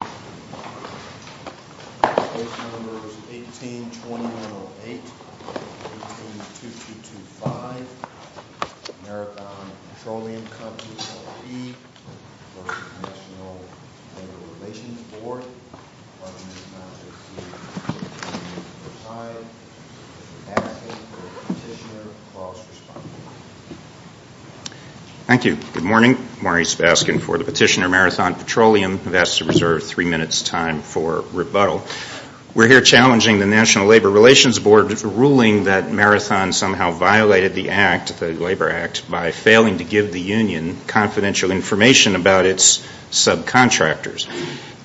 18-2908, 18-2225, Marathon Petroleum CompanyLP v. National Labor Relations Board, 11-9608, 18-2255, asking for Petitioner cross-responsibility. Thank you. Good morning. Maurice Baskin for the Petitioner Marathon Petroleum. I've asked to reserve three minutes' time for rebuttal. We're here challenging the National Labor Relations Board's ruling that Marathon somehow violated the Act, the Labor Act, by failing to give the union confidential information about its subcontractors.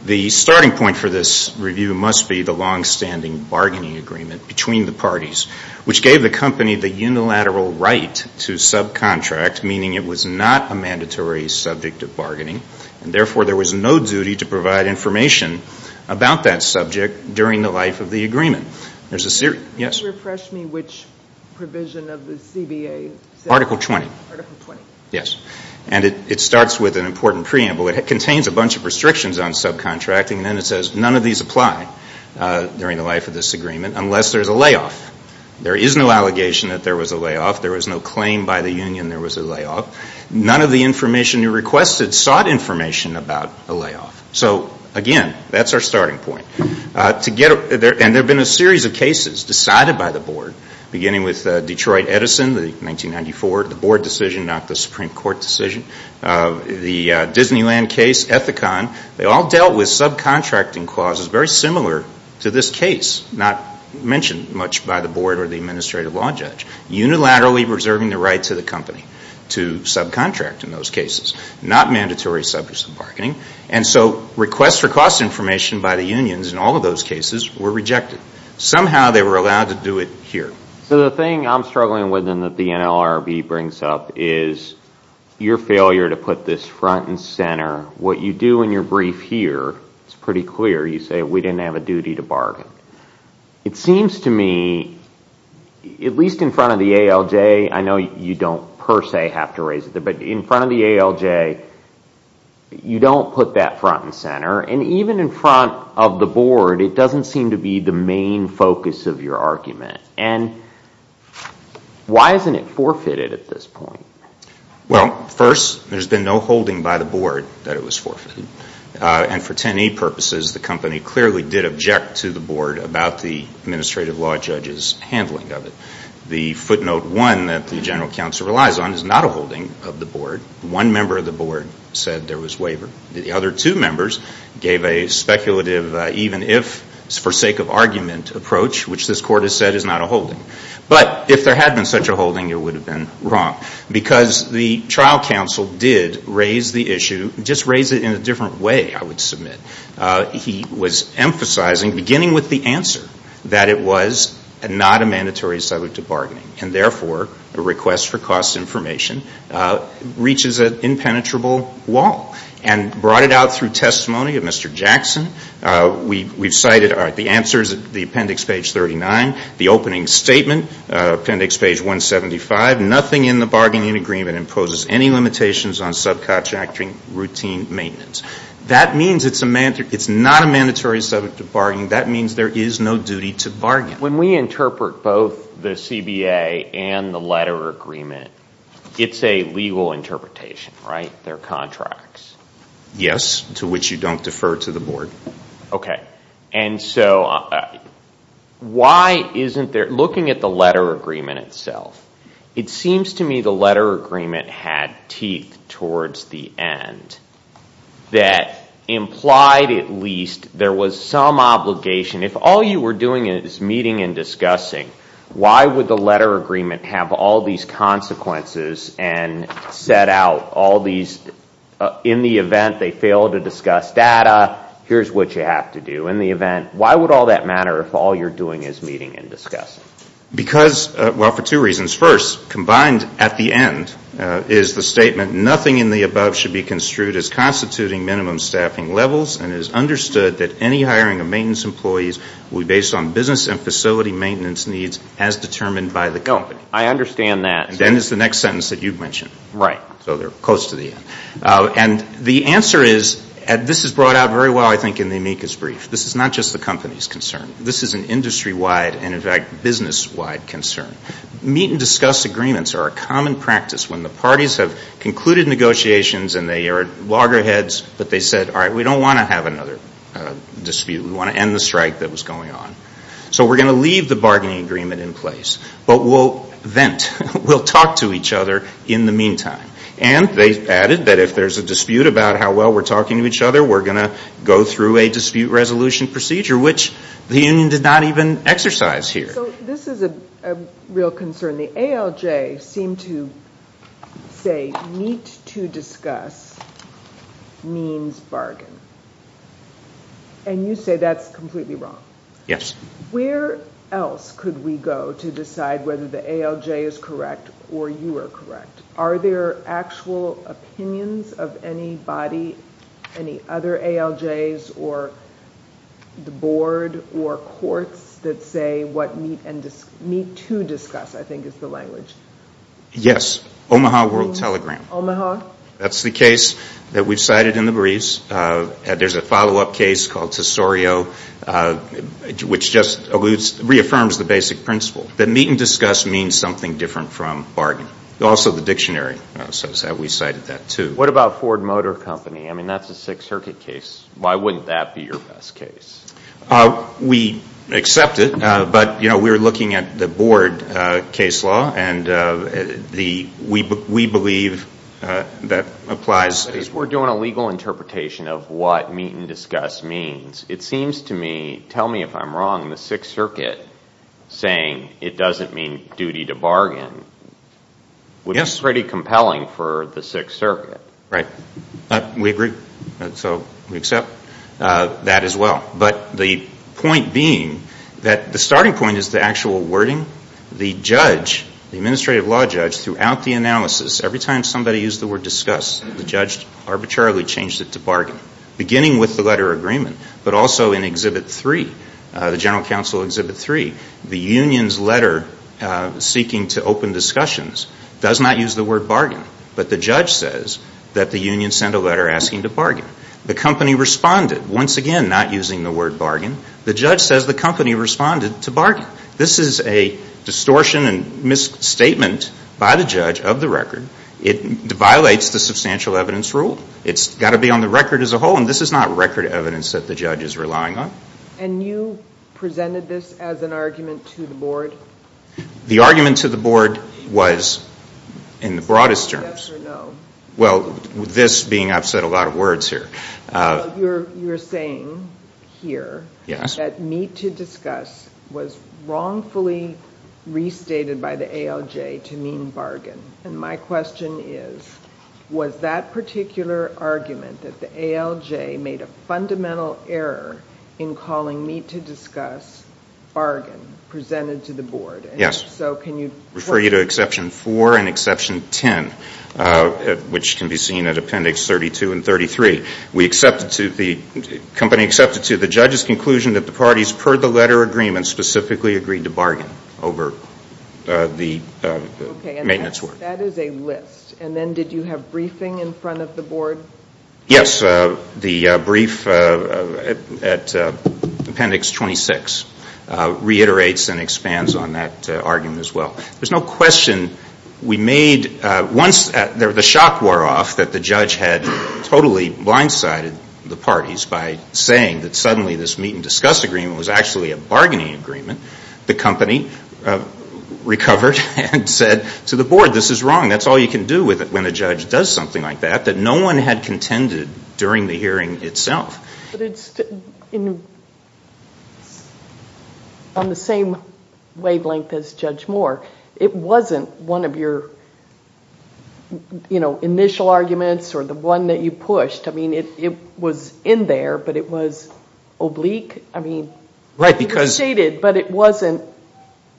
The starting point for this review must be the longstanding bargaining agreement between the parties, which gave the company the unilateral right to subcontract, meaning it was not a mandatory subject of bargaining, and therefore there was no duty to provide information about that subject during the life of the agreement. Could you refresh me which provision of the CBA says that? Article 20. Article 20. Yes. And it starts with an important preamble. It contains a bunch of restrictions on subcontracting, and then it says none of these apply during the life of this agreement unless there's a layoff. There is no allegation that there was a layoff. There was no claim by the union there was a layoff. None of the information you requested sought information about a layoff. So, again, that's our starting point. And there have been a series of cases decided by the board, beginning with Detroit Edison, 1994, the board decision, not the Supreme Court decision. The Disneyland case, Ethicon, they all dealt with subcontracting clauses very similar to this case, not mentioned much by the board or the administrative law judge. Unilaterally reserving the right to the company to subcontract in those cases. Not mandatory subject to bargaining. And so requests for cost information by the unions in all of those cases were rejected. Somehow they were allowed to do it here. So the thing I'm struggling with and that the NLRB brings up is your failure to put this front and center. What you do in your brief here, it's pretty clear. You say we didn't have a duty to bargain. It seems to me, at least in front of the ALJ, I know you don't per se have to raise it there, but in front of the ALJ, you don't put that front and center. And even in front of the board, it doesn't seem to be the main focus of your argument. And why isn't it forfeited at this point? Well, first, there's been no holding by the board that it was forfeited. And for 10E purposes, the company clearly did object to the board about the administrative law judge's handling of it. The footnote one that the general counsel relies on is not a holding of the board. One member of the board said there was waiver. The other two members gave a speculative even if for sake of argument approach, which this court has said is not a holding. But if there had been such a holding, it would have been wrong. Because the trial counsel did raise the issue, just raise it in a different way, I would submit. He was emphasizing, beginning with the answer, that it was not a mandatory assailant to bargaining. And therefore, a request for cost information reaches an impenetrable wall. And brought it out through testimony of Mr. Jackson, we've cited the answers at the appendix page 39, the opening statement, appendix page 175, nothing in the bargaining agreement imposes any limitations on subcontracting routine maintenance. That means it's not a mandatory subject of bargaining. That means there is no duty to bargain. When we interpret both the CBA and the letter agreement, it's a legal interpretation, right? They're contracts. Yes, to which you don't defer to the board. Okay. And so why isn't there, looking at the letter agreement itself, it seems to me the letter agreement had teeth towards the end that implied at least there was some obligation. If all you were doing is meeting and discussing, why would the letter agreement have all these consequences and set out all these, in the event they fail to discuss data, here's what you have to do. In the event, why would all that matter if all you're doing is meeting and discussing? Because, well, for two reasons. First, combined at the end is the statement, nothing in the above should be construed as constituting minimum staffing levels and it is understood that any hiring of maintenance employees will be based on business and facility maintenance needs as determined by the company. I understand that. And then is the next sentence that you've mentioned. Right. So they're close to the end. And the answer is, and this is brought out very well, I think, in the amicus brief, this is not just the company's concern. This is an industry-wide and, in fact, business-wide concern. Meet and discuss agreements are a common practice. When the parties have concluded negotiations and they are at loggerheads, but they said, all right, we don't want to have another dispute. We want to end the strike that was going on. So we're going to leave the bargaining agreement in place. But we'll vent. We'll talk to each other in the meantime. And they've added that if there's a dispute about how well we're talking to each other, we're going to go through a dispute resolution procedure, which the union did not even exercise here. So this is a real concern. The ALJ seemed to say meet to discuss means bargain. And you say that's completely wrong. Yes. Where else could we go to decide whether the ALJ is correct or you are correct? Are there actual opinions of anybody, any other ALJs or the board or courts, that say what meet to discuss, I think, is the language? Yes. Omaha World Telegram. Omaha? That's the case that we've cited in the briefs. There's a follow-up case called Tesorio, which just reaffirms the basic principle that meet and discuss means something different from bargain. Also the dictionary says that. We cited that, too. What about Ford Motor Company? I mean, that's a Sixth Circuit case. Why wouldn't that be your best case? We accept it. But, you know, we were looking at the board case law, and we believe that applies. If we're doing a legal interpretation of what meet and discuss means, it seems to me, tell me if I'm wrong, the Sixth Circuit saying it doesn't mean duty to bargain would be pretty compelling for the Sixth Circuit. Right. We agree. So we accept that as well. But the point being that the starting point is the actual wording. The judge, the administrative law judge, throughout the analysis, every time somebody used the word discuss, the judge arbitrarily changed it to bargain. Beginning with the letter agreement, but also in Exhibit 3, the General Counsel Exhibit 3, the union's letter seeking to open discussions does not use the word bargain, but the judge says that the union sent a letter asking to bargain. The company responded, once again not using the word bargain. The judge says the company responded to bargain. This is a distortion and misstatement by the judge of the record. It violates the substantial evidence rule. It's got to be on the record as a whole, and this is not record evidence that the judge is relying on. And you presented this as an argument to the board? The argument to the board was in the broadest terms. Yes or no? Well, this being I've said a lot of words here. You're saying here that meet to discuss was wrongfully restated by the ALJ to mean bargain. And my question is, was that particular argument that the ALJ made a fundamental error in calling meet to discuss bargain presented to the board? Yes. So can you? Refer you to Exception 4 and Exception 10, which can be seen at Appendix 32 and 33. The company accepted to the judge's conclusion that the parties, per the letter agreement, specifically agreed to bargain over the maintenance work. Okay. And that is a list. And then did you have briefing in front of the board? Yes. The brief at Appendix 26 reiterates and expands on that argument as well. There's no question we made once the shock wore off that the judge had totally blindsided the parties by saying that suddenly this meet and discuss agreement was actually a bargaining agreement. The company recovered and said to the board, this is wrong. That's all you can do when a judge does something like that, that no one had contended during the hearing itself. But it's on the same wavelength as Judge Moore. It wasn't one of your initial arguments or the one that you pushed. I mean, it was in there, but it was oblique. I mean, it was stated, but it wasn't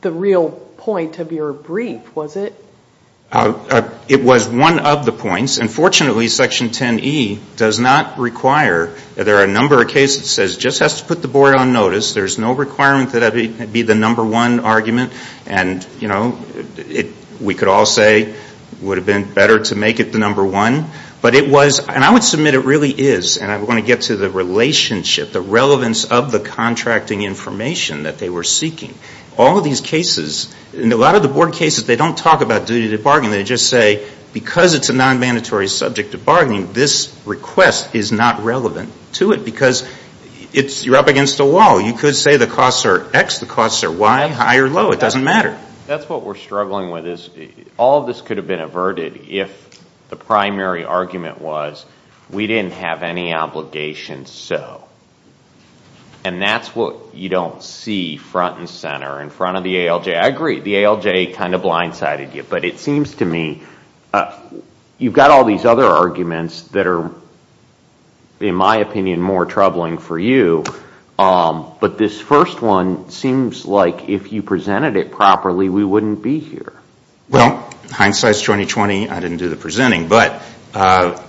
the real point of your brief, was it? It was one of the points. And fortunately, Section 10E does not require, there are a number of cases that says it just has to put the board on notice. There's no requirement that it be the number one argument. And, you know, we could all say it would have been better to make it the number one. But it was, and I would submit it really is, and I want to get to the relationship, the relevance of the contracting information that they were seeking. All of these cases, and a lot of the board cases, they don't talk about duty to bargain. They just say because it's a non-mandatory subject to bargaining, this request is not relevant to it. Because you're up against a wall. You could say the costs are X, the costs are Y, high or low, it doesn't matter. That's what we're struggling with is all of this could have been averted if the primary argument was we didn't have any obligation, so. And that's what you don't see front and center in front of the ALJ. I agree, the ALJ kind of blindsided you. But it seems to me you've got all these other arguments that are, in my opinion, more troubling for you. But this first one seems like if you presented it properly, we wouldn't be here. Well, hindsight's 20-20, I didn't do the presenting. But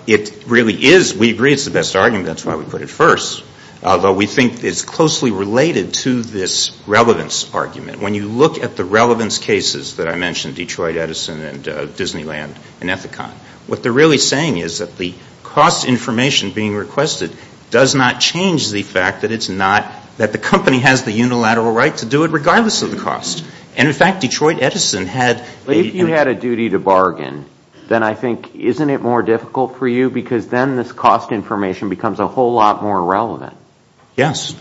it really is, we agree it's the best argument, that's why we put it first. Although we think it's closely related to this relevance argument. When you look at the relevance cases that I mentioned, Detroit Edison and Disneyland and Ethicon, what they're really saying is that the cost information being requested does not change the fact that it's not, that the company has the unilateral right to do it regardless of the cost. And, in fact, Detroit Edison had. But if you had a duty to bargain, then I think, isn't it more difficult for you? Because then this cost information becomes a whole lot more relevant. Yes.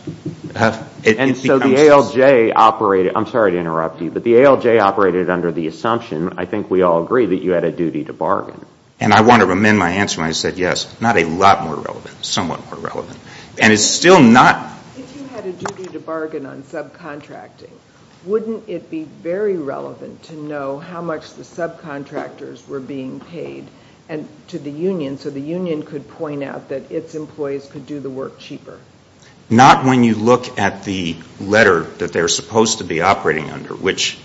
And so the ALJ operated, I'm sorry to interrupt you, but the ALJ operated under the assumption, I think we all agree, that you had a duty to bargain. And I want to amend my answer when I said yes. Not a lot more relevant, somewhat more relevant. And it's still not. If you had a duty to bargain on subcontracting, wouldn't it be very relevant to know how much the subcontractors were being paid to the union so the union could point out that its employees could do the work cheaper? Not when you look at the letter that they were supposed to be operating under, which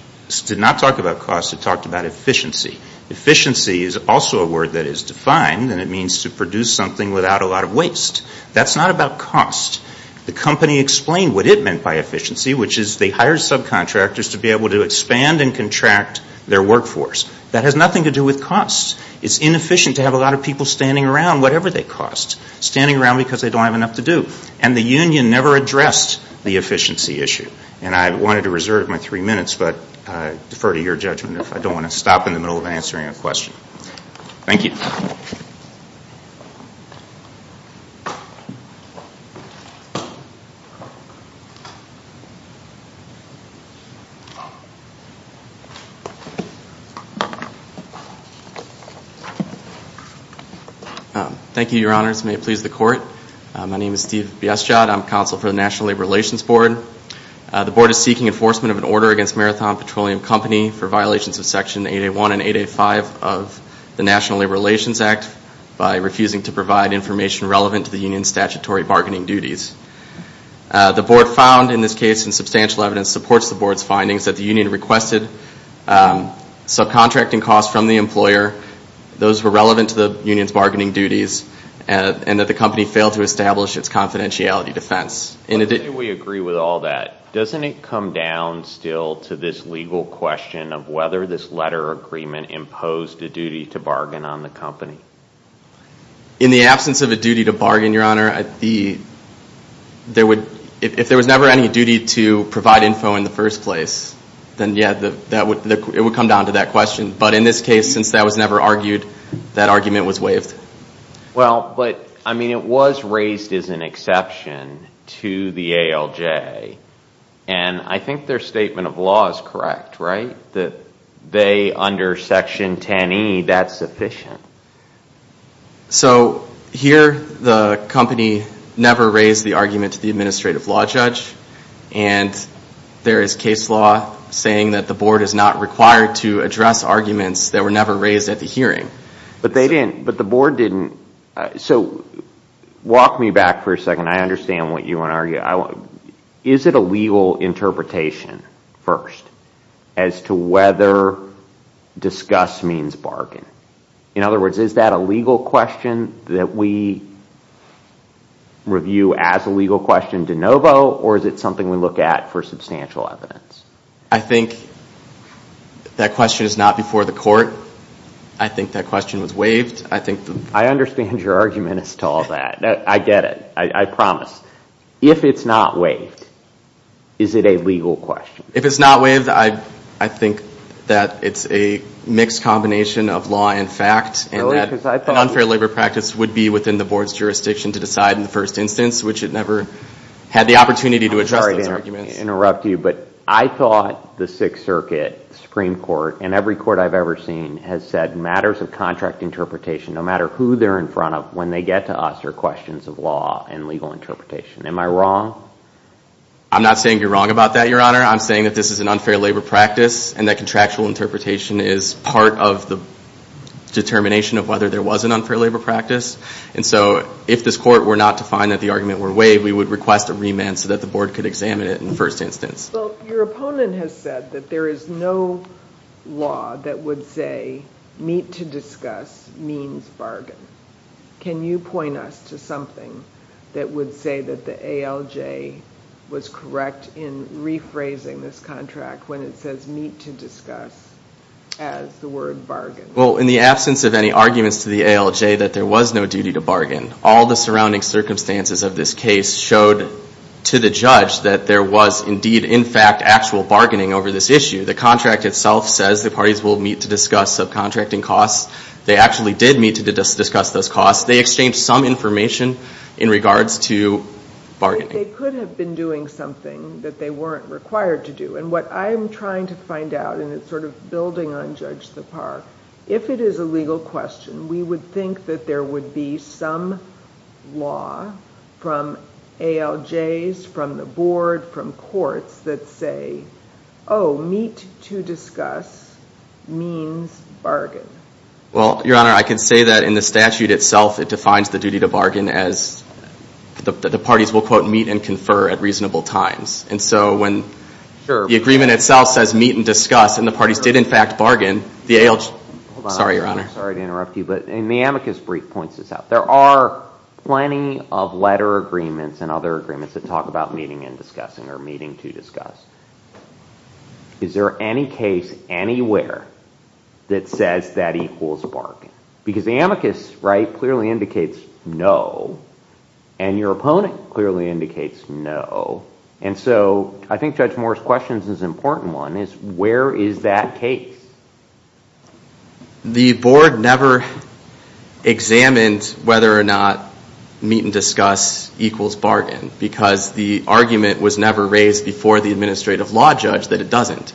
did not talk about cost, it talked about efficiency. Efficiency is also a word that is defined, and it means to produce something without a lot of waste. That's not about cost. The company explained what it meant by efficiency, which is they hired subcontractors to be able to expand and contract their workforce. That has nothing to do with cost. It's inefficient to have a lot of people standing around, whatever they cost, standing around because they don't have enough to do. And the union never addressed the efficiency issue. And I wanted to reserve my three minutes, but I defer to your judgment if I don't want to stop in the middle of answering a question. Thank you. Thank you. Thank you, Your Honors. May it please the Court. My name is Steve Biestjad. I'm counsel for the National Labor Relations Board. The board is seeking enforcement of an order against Marathon Petroleum Company for violations of Section 8A1 and 8A5 of the National Labor Relations Act by refusing to provide information relevant to the union's statutory bargaining duties. The board found in this case, and substantial evidence supports the board's findings, that the union requested subcontracting costs from the employer. Those were relevant to the union's bargaining duties, and that the company failed to establish its confidentiality defense. Why do we agree with all that? Doesn't it come down still to this legal question of whether this letter agreement imposed a duty to bargain on the company? In the absence of a duty to bargain, Your Honor, if there was never any duty to provide info in the first place, then, yeah, it would come down to that question. But in this case, since that was never argued, that argument was waived. Well, but, I mean, it was raised as an exception to the ALJ, and I think their statement of law is correct, right? That they, under Section 10E, that's sufficient. So, here, the company never raised the argument to the administrative law judge, and there is case law saying that the board is not required to address arguments that were never raised at the hearing. But they didn't, but the board didn't. So, walk me back for a second. I understand what you want to argue. Is it a legal interpretation, first, as to whether disgust means bargain? In other words, is that a legal question that we review as a legal question de novo, or is it something we look at for substantial evidence? I think that question is not before the court. I think that question was waived. I understand your argument as to all that. I get it. I promise. If it's not waived, is it a legal question? If it's not waived, I think that it's a mixed combination of law and fact, and that an unfair labor practice would be within the board's jurisdiction to decide in the first instance, which it never had the opportunity to address those arguments. I'm sorry to interrupt you, but I thought the Sixth Circuit Supreme Court, and every court I've ever seen, has said matters of contract interpretation, no matter who they're in front of, when they get to us, are questions of law and legal interpretation. Am I wrong? I'm not saying you're wrong about that, Your Honor. I'm saying that this is an unfair labor practice and that contractual interpretation is part of the determination of whether there was an unfair labor practice. And so, if this court were not to find that the argument were waived, we would request a remand so that the board could examine it in the first instance. Well, your opponent has said that there is no law that would say, meet to discuss means bargain. Can you point us to something that would say that the ALJ was correct in rephrasing this contract when it says meet to discuss as the word bargain? Well, in the absence of any arguments to the ALJ that there was no duty to bargain, all the surrounding circumstances of this case showed to the judge that there was indeed, in fact, actual bargaining over this issue. The contract itself says the parties will meet to discuss subcontracting costs. They actually did meet to discuss those costs. They exchanged some information in regards to bargaining. They could have been doing something that they weren't required to do. And what I'm trying to find out, and it's sort of building on Judge Sipar, if it is a legal question, we would think that there would be some law from ALJs, from the board, from courts that say, oh, meet to discuss means bargain. Well, Your Honor, I can say that in the statute itself it defines the duty to bargain as the parties will, quote, meet and confer at reasonable times. And so when the agreement itself says meet and discuss and the parties did, in fact, bargain, the ALJ – Hold on, I'm sorry to interrupt you, but in the amicus brief points this out. There are plenty of letter agreements and other agreements that talk about meeting and discussing or meeting to discuss. Is there any case anywhere that says that equals bargaining? Because the amicus clearly indicates no, and your opponent clearly indicates no. And so I think Judge Moore's question is an important one, is where is that case? The board never examined whether or not meet and discuss equals bargain because the argument was never raised before the administrative law judge that it doesn't.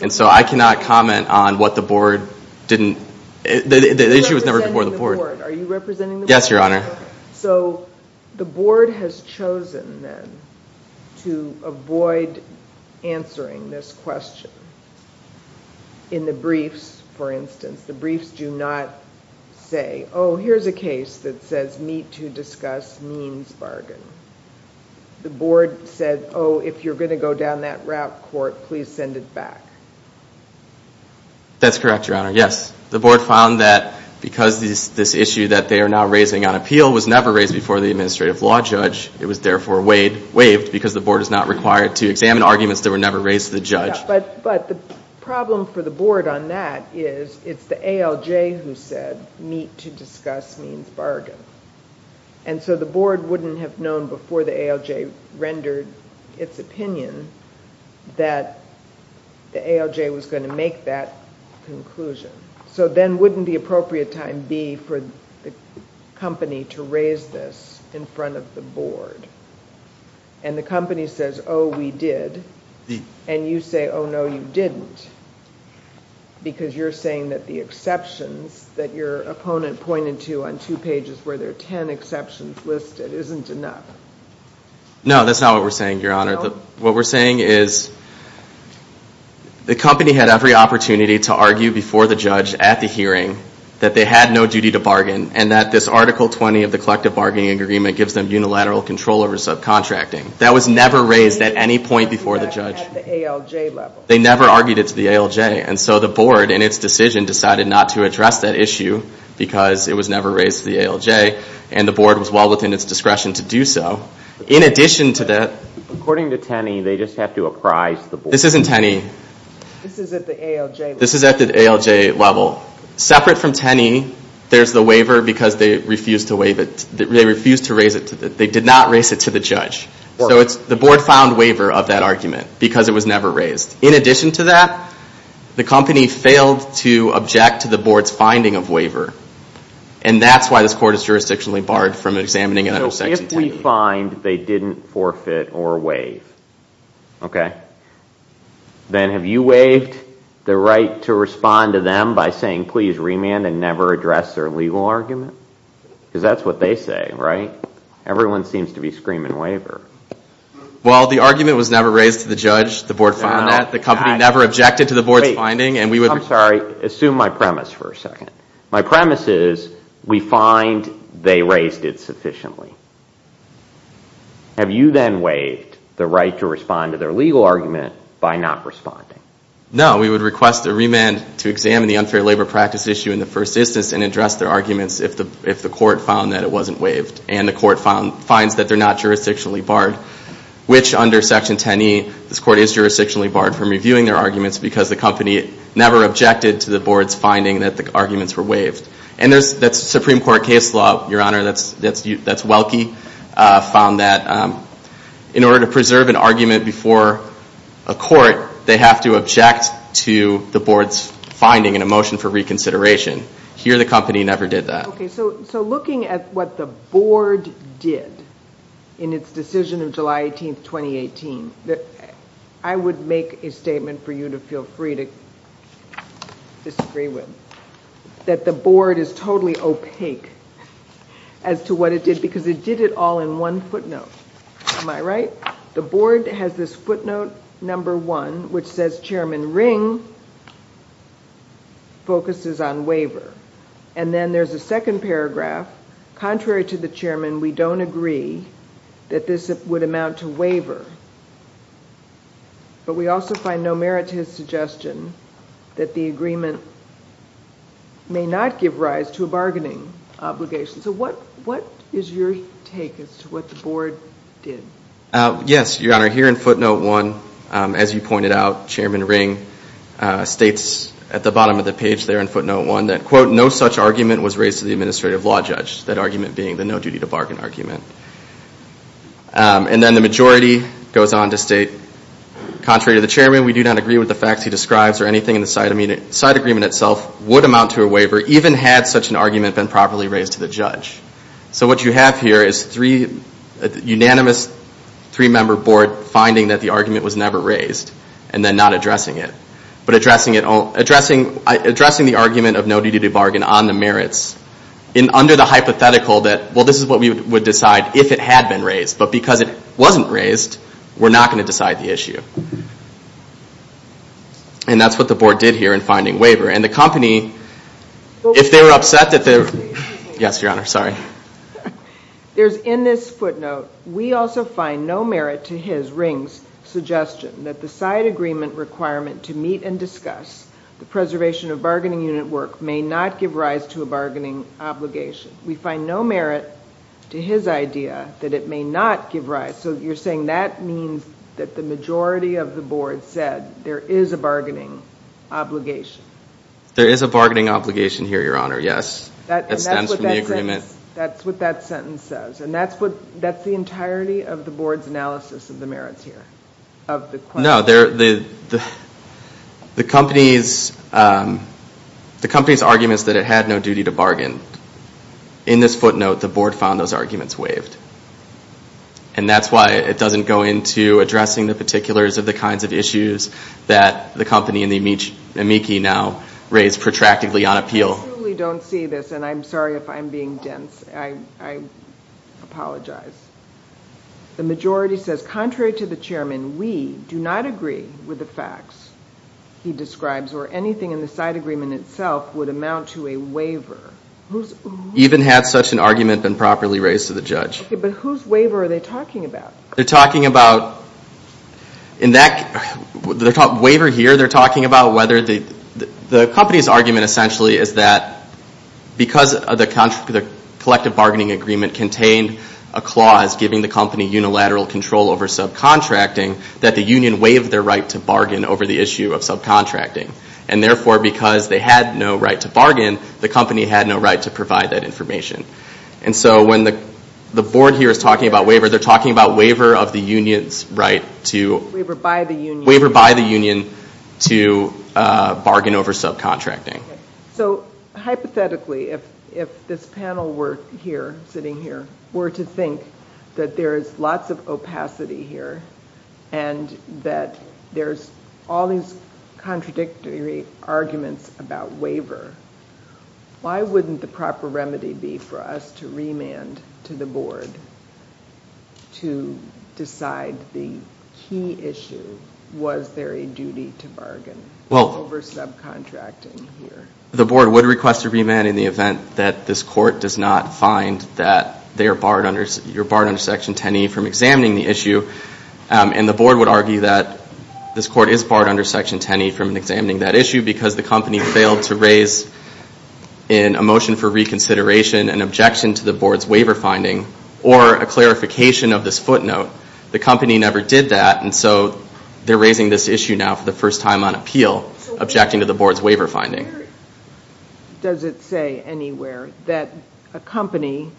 And so I cannot comment on what the board didn't – the issue was never before the board. Are you representing the board? Yes, Your Honor. So the board has chosen, then, to avoid answering this question in the briefs, for instance. The briefs do not say, oh, here's a case that says meet to discuss means bargain. The board said, oh, if you're going to go down that route, court, please send it back. That's correct, Your Honor, yes. The board found that because this issue that they are now raising on appeal was never raised before the administrative law judge, it was therefore waived because the board is not required to examine arguments that were never raised to the judge. But the problem for the board on that is it's the ALJ who said meet to discuss means bargain. And so the board wouldn't have known before the ALJ rendered its opinion that the ALJ was going to make that conclusion. So then wouldn't the appropriate time be for the company to raise this in front of the board? And the company says, oh, we did, and you say, oh, no, you didn't, because you're saying that the exceptions that your opponent pointed to on two pages where there are ten exceptions listed isn't enough. No, that's not what we're saying, Your Honor. What we're saying is the company had every opportunity to argue before the judge at the hearing that they had no duty to bargain and that this Article 20 of the Collective Bargaining Agreement gives them unilateral control over subcontracting. That was never raised at any point before the judge. At the ALJ level. They never argued it to the ALJ, and so the board in its decision decided not to address that issue because it was never raised to the ALJ, and the board was well within its discretion to do so. In addition to that... According to Tenney, they just have to apprise the board. This isn't Tenney. This is at the ALJ level. This is at the ALJ level. Separate from Tenney, there's the waiver because they refused to raise it. They did not raise it to the judge. So the board found waiver of that argument because it was never raised. In addition to that, the company failed to object to the board's finding of waiver, and that's why this court is jurisdictionally barred from examining an under section Tenney. If we find they didn't forfeit or waive, then have you waived the right to respond to them by saying please remand and never address their legal argument? Because that's what they say, right? Everyone seems to be screaming waiver. Well, the argument was never raised to the judge. The board found that. The company never objected to the board's finding. I'm sorry. Assume my premise for a second. My premise is we find they raised it sufficiently. Have you then waived the right to respond to their legal argument by not responding? No. We would request a remand to examine the unfair labor practice issue in the first instance and address their arguments if the court found that it wasn't waived and the court finds that they're not jurisdictionally barred, which under section Tenney this court is jurisdictionally barred from reviewing their arguments because the company never objected to the board's finding that the arguments were waived. And that's Supreme Court case law, Your Honor. That's Welke found that in order to preserve an argument before a court, they have to object to the board's finding in a motion for reconsideration. Here the company never did that. Okay. So looking at what the board did in its decision of July 18, 2018, I would make a statement for you to feel free to disagree with, that the board is totally opaque as to what it did because it did it all in one footnote. Am I right? The board has this footnote number one, which says Chairman Ring focuses on waiver. And then there's a second paragraph, contrary to the chairman, we don't agree that this would amount to waiver. But we also find no merit to his suggestion that the agreement may not give rise to a bargaining obligation. So what is your take as to what the board did? Yes, Your Honor. Here in footnote one, as you pointed out, Chairman Ring states at the bottom of the page there in footnote one that, quote, no such argument was raised to the administrative law judge, that argument being the no-duty-to-bargain argument. And then the majority goes on to state, contrary to the chairman, we do not agree with the facts he describes or anything in the side agreement itself would amount to a waiver even had such an argument been properly raised to the judge. So what you have here is a unanimous three-member board finding that the argument was never raised and then not addressing it, but addressing the argument of no-duty-to-bargain on the merits under the hypothetical that, well, this is what we would decide if it had been raised, but because it wasn't raised, we're not going to decide the issue. And that's what the board did here in finding waiver. And the company, if they were upset that they were – yes, Your Honor, sorry. There's in this footnote, we also find no merit to his ring's suggestion that the side agreement requirement to meet and discuss the preservation of bargaining unit work may not give rise to a bargaining obligation. We find no merit to his idea that it may not give rise. So you're saying that means that the majority of the board said there is a bargaining obligation. There is a bargaining obligation here, Your Honor, yes. That stems from the agreement. And that's what that sentence says. And that's the entirety of the board's analysis of the merits here, of the question. No, the company's argument is that it had no duty to bargain. In this footnote, the board found those arguments waived. And that's why it doesn't go into addressing the particulars of the kinds of issues that the company and the amici now raise protractedly on appeal. I truly don't see this, and I'm sorry if I'm being dense. I apologize. The majority says, contrary to the chairman, we do not agree with the facts he describes or anything in the side agreement itself would amount to a waiver. Even had such an argument been properly raised to the judge. Okay, but whose waiver are they talking about? They're talking about – in that waiver here, they're talking about whether they – the company's argument essentially is that because the collective bargaining agreement contained a clause giving the company unilateral control over subcontracting, that the union waived their right to bargain over the issue of subcontracting. And therefore, because they had no right to bargain, the company had no right to provide that information. And so when the board here is talking about waiver, they're talking about waiver of the union's right to – Waiver by the union. To bargain over subcontracting. So hypothetically, if this panel were here, sitting here, were to think that there is lots of opacity here and that there's all these contradictory arguments about waiver, why wouldn't the proper remedy be for us to remand to the board to decide the key issue, was there a duty to bargain over subcontracting here? Well, the board would request a remand in the event that this court does not find that they are barred under – you're barred under Section 10e from examining the issue. And the board would argue that this court is barred under Section 10e from examining that issue because the company failed to raise in a motion for reconsideration an objection to the board's waiver finding or a clarification of this footnote. The company never did that, and so they're raising this issue now for the first time on appeal, objecting to the board's waiver finding. Where does it say anywhere that a company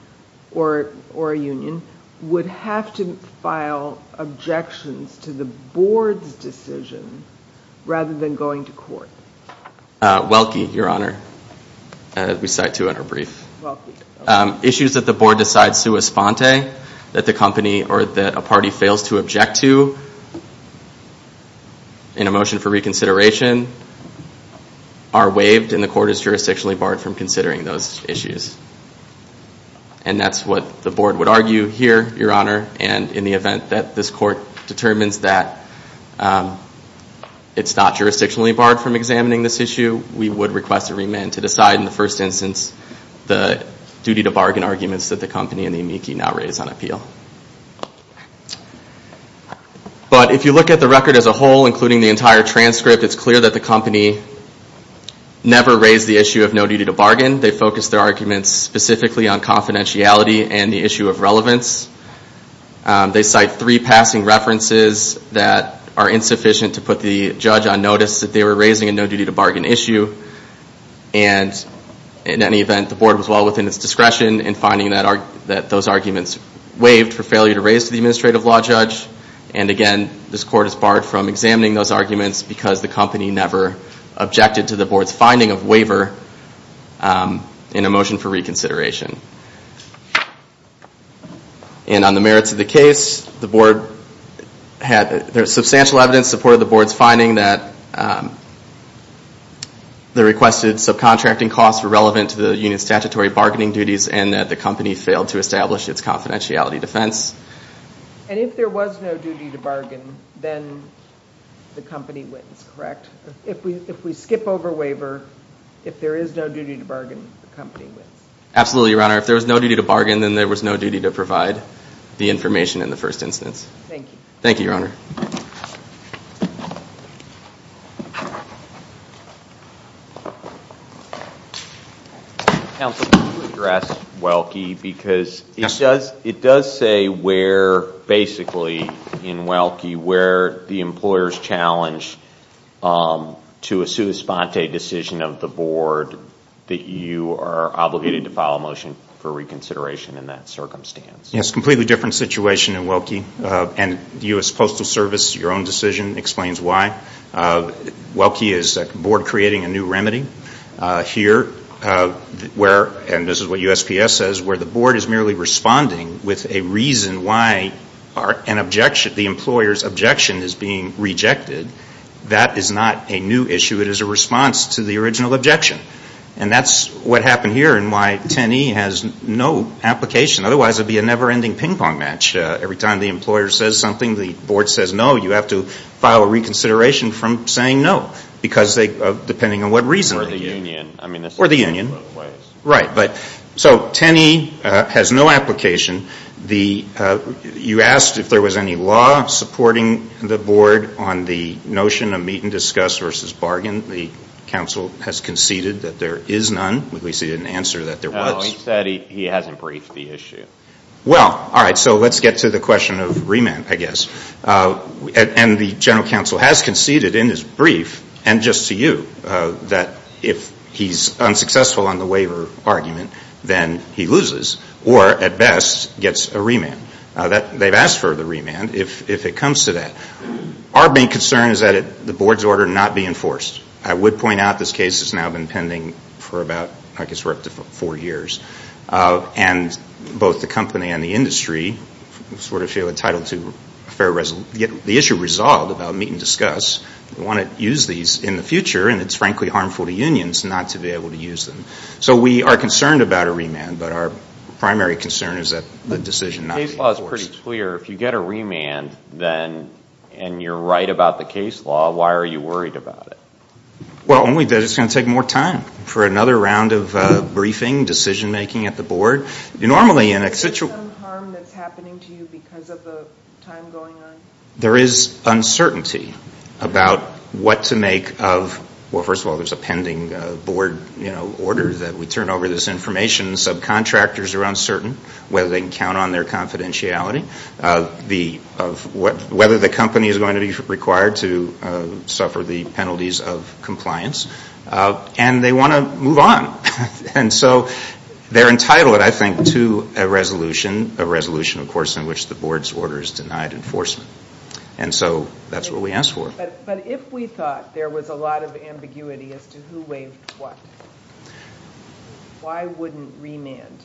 or a union would have to file objections to the board's decision rather than going to court? Welke, Your Honor, we cite two in our brief. Issues that the board decides sua sponte that the company or that a party fails to object to in a motion for reconsideration are waived and the court is jurisdictionally barred from considering those issues. And that's what the board would argue here, Your Honor, and in the event that this court determines that it's not jurisdictionally barred from examining this issue, we would request a remand to decide in the first instance the duty to bargain arguments that the company and the amici now raise on appeal. But if you look at the record as a whole, including the entire transcript, it's clear that the company never raised the issue of no duty to bargain. They focused their arguments specifically on confidentiality and the issue of relevance. They cite three passing references that are insufficient to put the judge on notice that they were raising a no duty to bargain issue. And in any event, the board was well within its discretion in finding that those arguments waived for failure to raise to the administrative law judge. And again, this court is barred from examining those arguments because the company never objected to the board's finding of waiver in a motion for reconsideration. And on the merits of the case, the board had substantial evidence in support of the board's finding that the requested subcontracting costs were relevant to the union's statutory bargaining duties and that the company failed to establish its confidentiality defense. And if there was no duty to bargain, then the company wins, correct? If we skip over waiver, if there is no duty to bargain, the company wins. Absolutely, Your Honor. If there was no duty to bargain, then there was no duty to provide the information in the first instance. Thank you. Thank you, Your Honor. Counsel, can you address Welke? Because it does say where, basically, in Welke, where the employer's challenge to a sua sponte decision of the board that you are obligated to file a motion for reconsideration in that circumstance. Yes, completely different situation in Welke. And U.S. Postal Service, your own decision explains why. Welke is a board creating a new remedy. Here, where, and this is what USPS says, where the board is merely responding with a reason why an objection, the employer's objection is being rejected, that is not a new issue. It is a response to the original objection. And that's what happened here and why 10E has no application. Otherwise, it would be a never-ending ping-pong match. Every time the employer says something, the board says no. You have to file a reconsideration from saying no, depending on what reason. Or the union. Or the union. Right. So 10E has no application. You asked if there was any law supporting the board on the notion of meet-and-discuss versus bargain. The counsel has conceded that there is none. At least he didn't answer that there was. No, he said he hasn't briefed the issue. Well, all right, so let's get to the question of remand, I guess. And the general counsel has conceded in his brief, and just to you, that if he's unsuccessful on the waiver argument, then he loses. Or, at best, gets a remand. They've asked for the remand if it comes to that. Our main concern is that the board's order not be enforced. I would point out this case has now been pending for about, I guess, we're up to four years. And both the company and the industry sort of feel entitled to the issue resolved about meet-and-discuss. We want to use these in the future, and it's, frankly, harmful to unions not to be able to use them. So we are concerned about a remand, but our primary concern is that the decision not be enforced. The case law is pretty clear. If you get a remand and you're right about the case law, why are you worried about it? Well, it's going to take more time. For another round of briefing, decision-making at the board, normally in a situation Is there some harm that's happening to you because of the time going on? There is uncertainty about what to make of, well, first of all, there's a pending board order that we turn over this information. Subcontractors are uncertain whether they can count on their confidentiality, whether the company is going to be required to suffer the penalties of compliance. And they want to move on. And so they're entitled, I think, to a resolution, a resolution, of course, in which the board's order is denied enforcement. And so that's what we ask for. But if we thought there was a lot of ambiguity as to who waived what, why wouldn't remand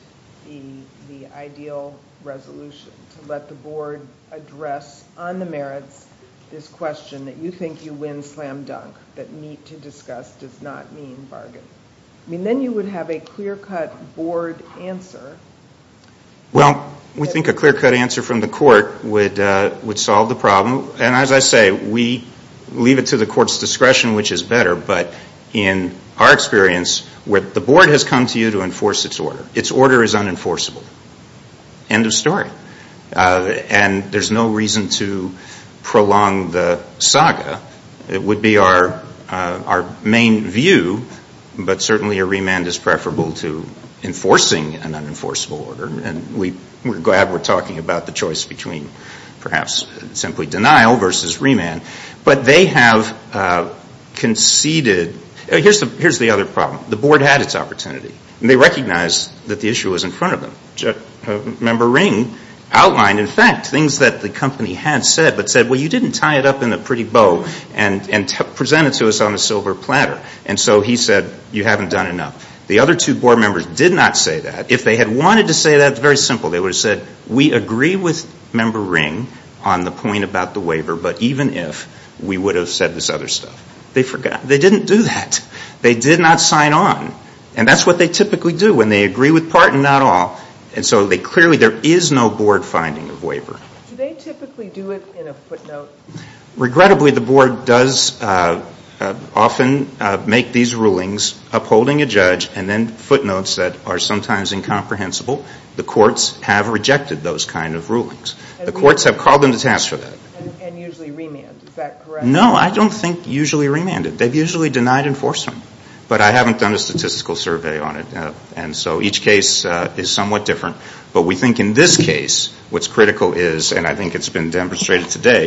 be the ideal resolution to let the board address on the merits this question that you think you win slam dunk, that need to discuss does not mean bargain? I mean, then you would have a clear-cut board answer. Well, we think a clear-cut answer from the court would solve the problem. And as I say, we leave it to the court's discretion, which is better. But in our experience, the board has come to you to enforce its order. Its order is unenforceable. End of story. And there's no reason to prolong the saga. It would be our main view. But certainly a remand is preferable to enforcing an unenforceable order. And we're glad we're talking about the choice between perhaps simply denial versus remand. But they have conceded. Here's the other problem. The board had its opportunity. And they recognized that the issue was in front of them. Member Ring outlined, in fact, things that the company had said, but said, well, you didn't tie it up in a pretty bow and present it to us on a silver platter. And so he said, you haven't done enough. The other two board members did not say that. If they had wanted to say that, it's very simple. They would have said, we agree with Member Ring on the point about the waiver, but even if, we would have said this other stuff. They forgot. They didn't do that. They did not sign on. And that's what they typically do when they agree with part and not all. And so they clearly, there is no board finding of waiver. Do they typically do it in a footnote? Regrettably, the board does often make these rulings upholding a judge and then footnotes that are sometimes incomprehensible. The courts have rejected those kind of rulings. The courts have called them to task for that. And usually remand. Is that correct? No, I don't think usually remanded. They've usually denied enforcement. But I haven't done a statistical survey on it. And so each case is somewhat different. But we think in this case, what's critical is, and I think it's been demonstrated today,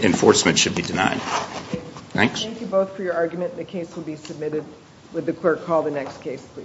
enforcement should be denied. Thanks. Thank you both for your argument. The case will be submitted with the clerk. Call the next case, please.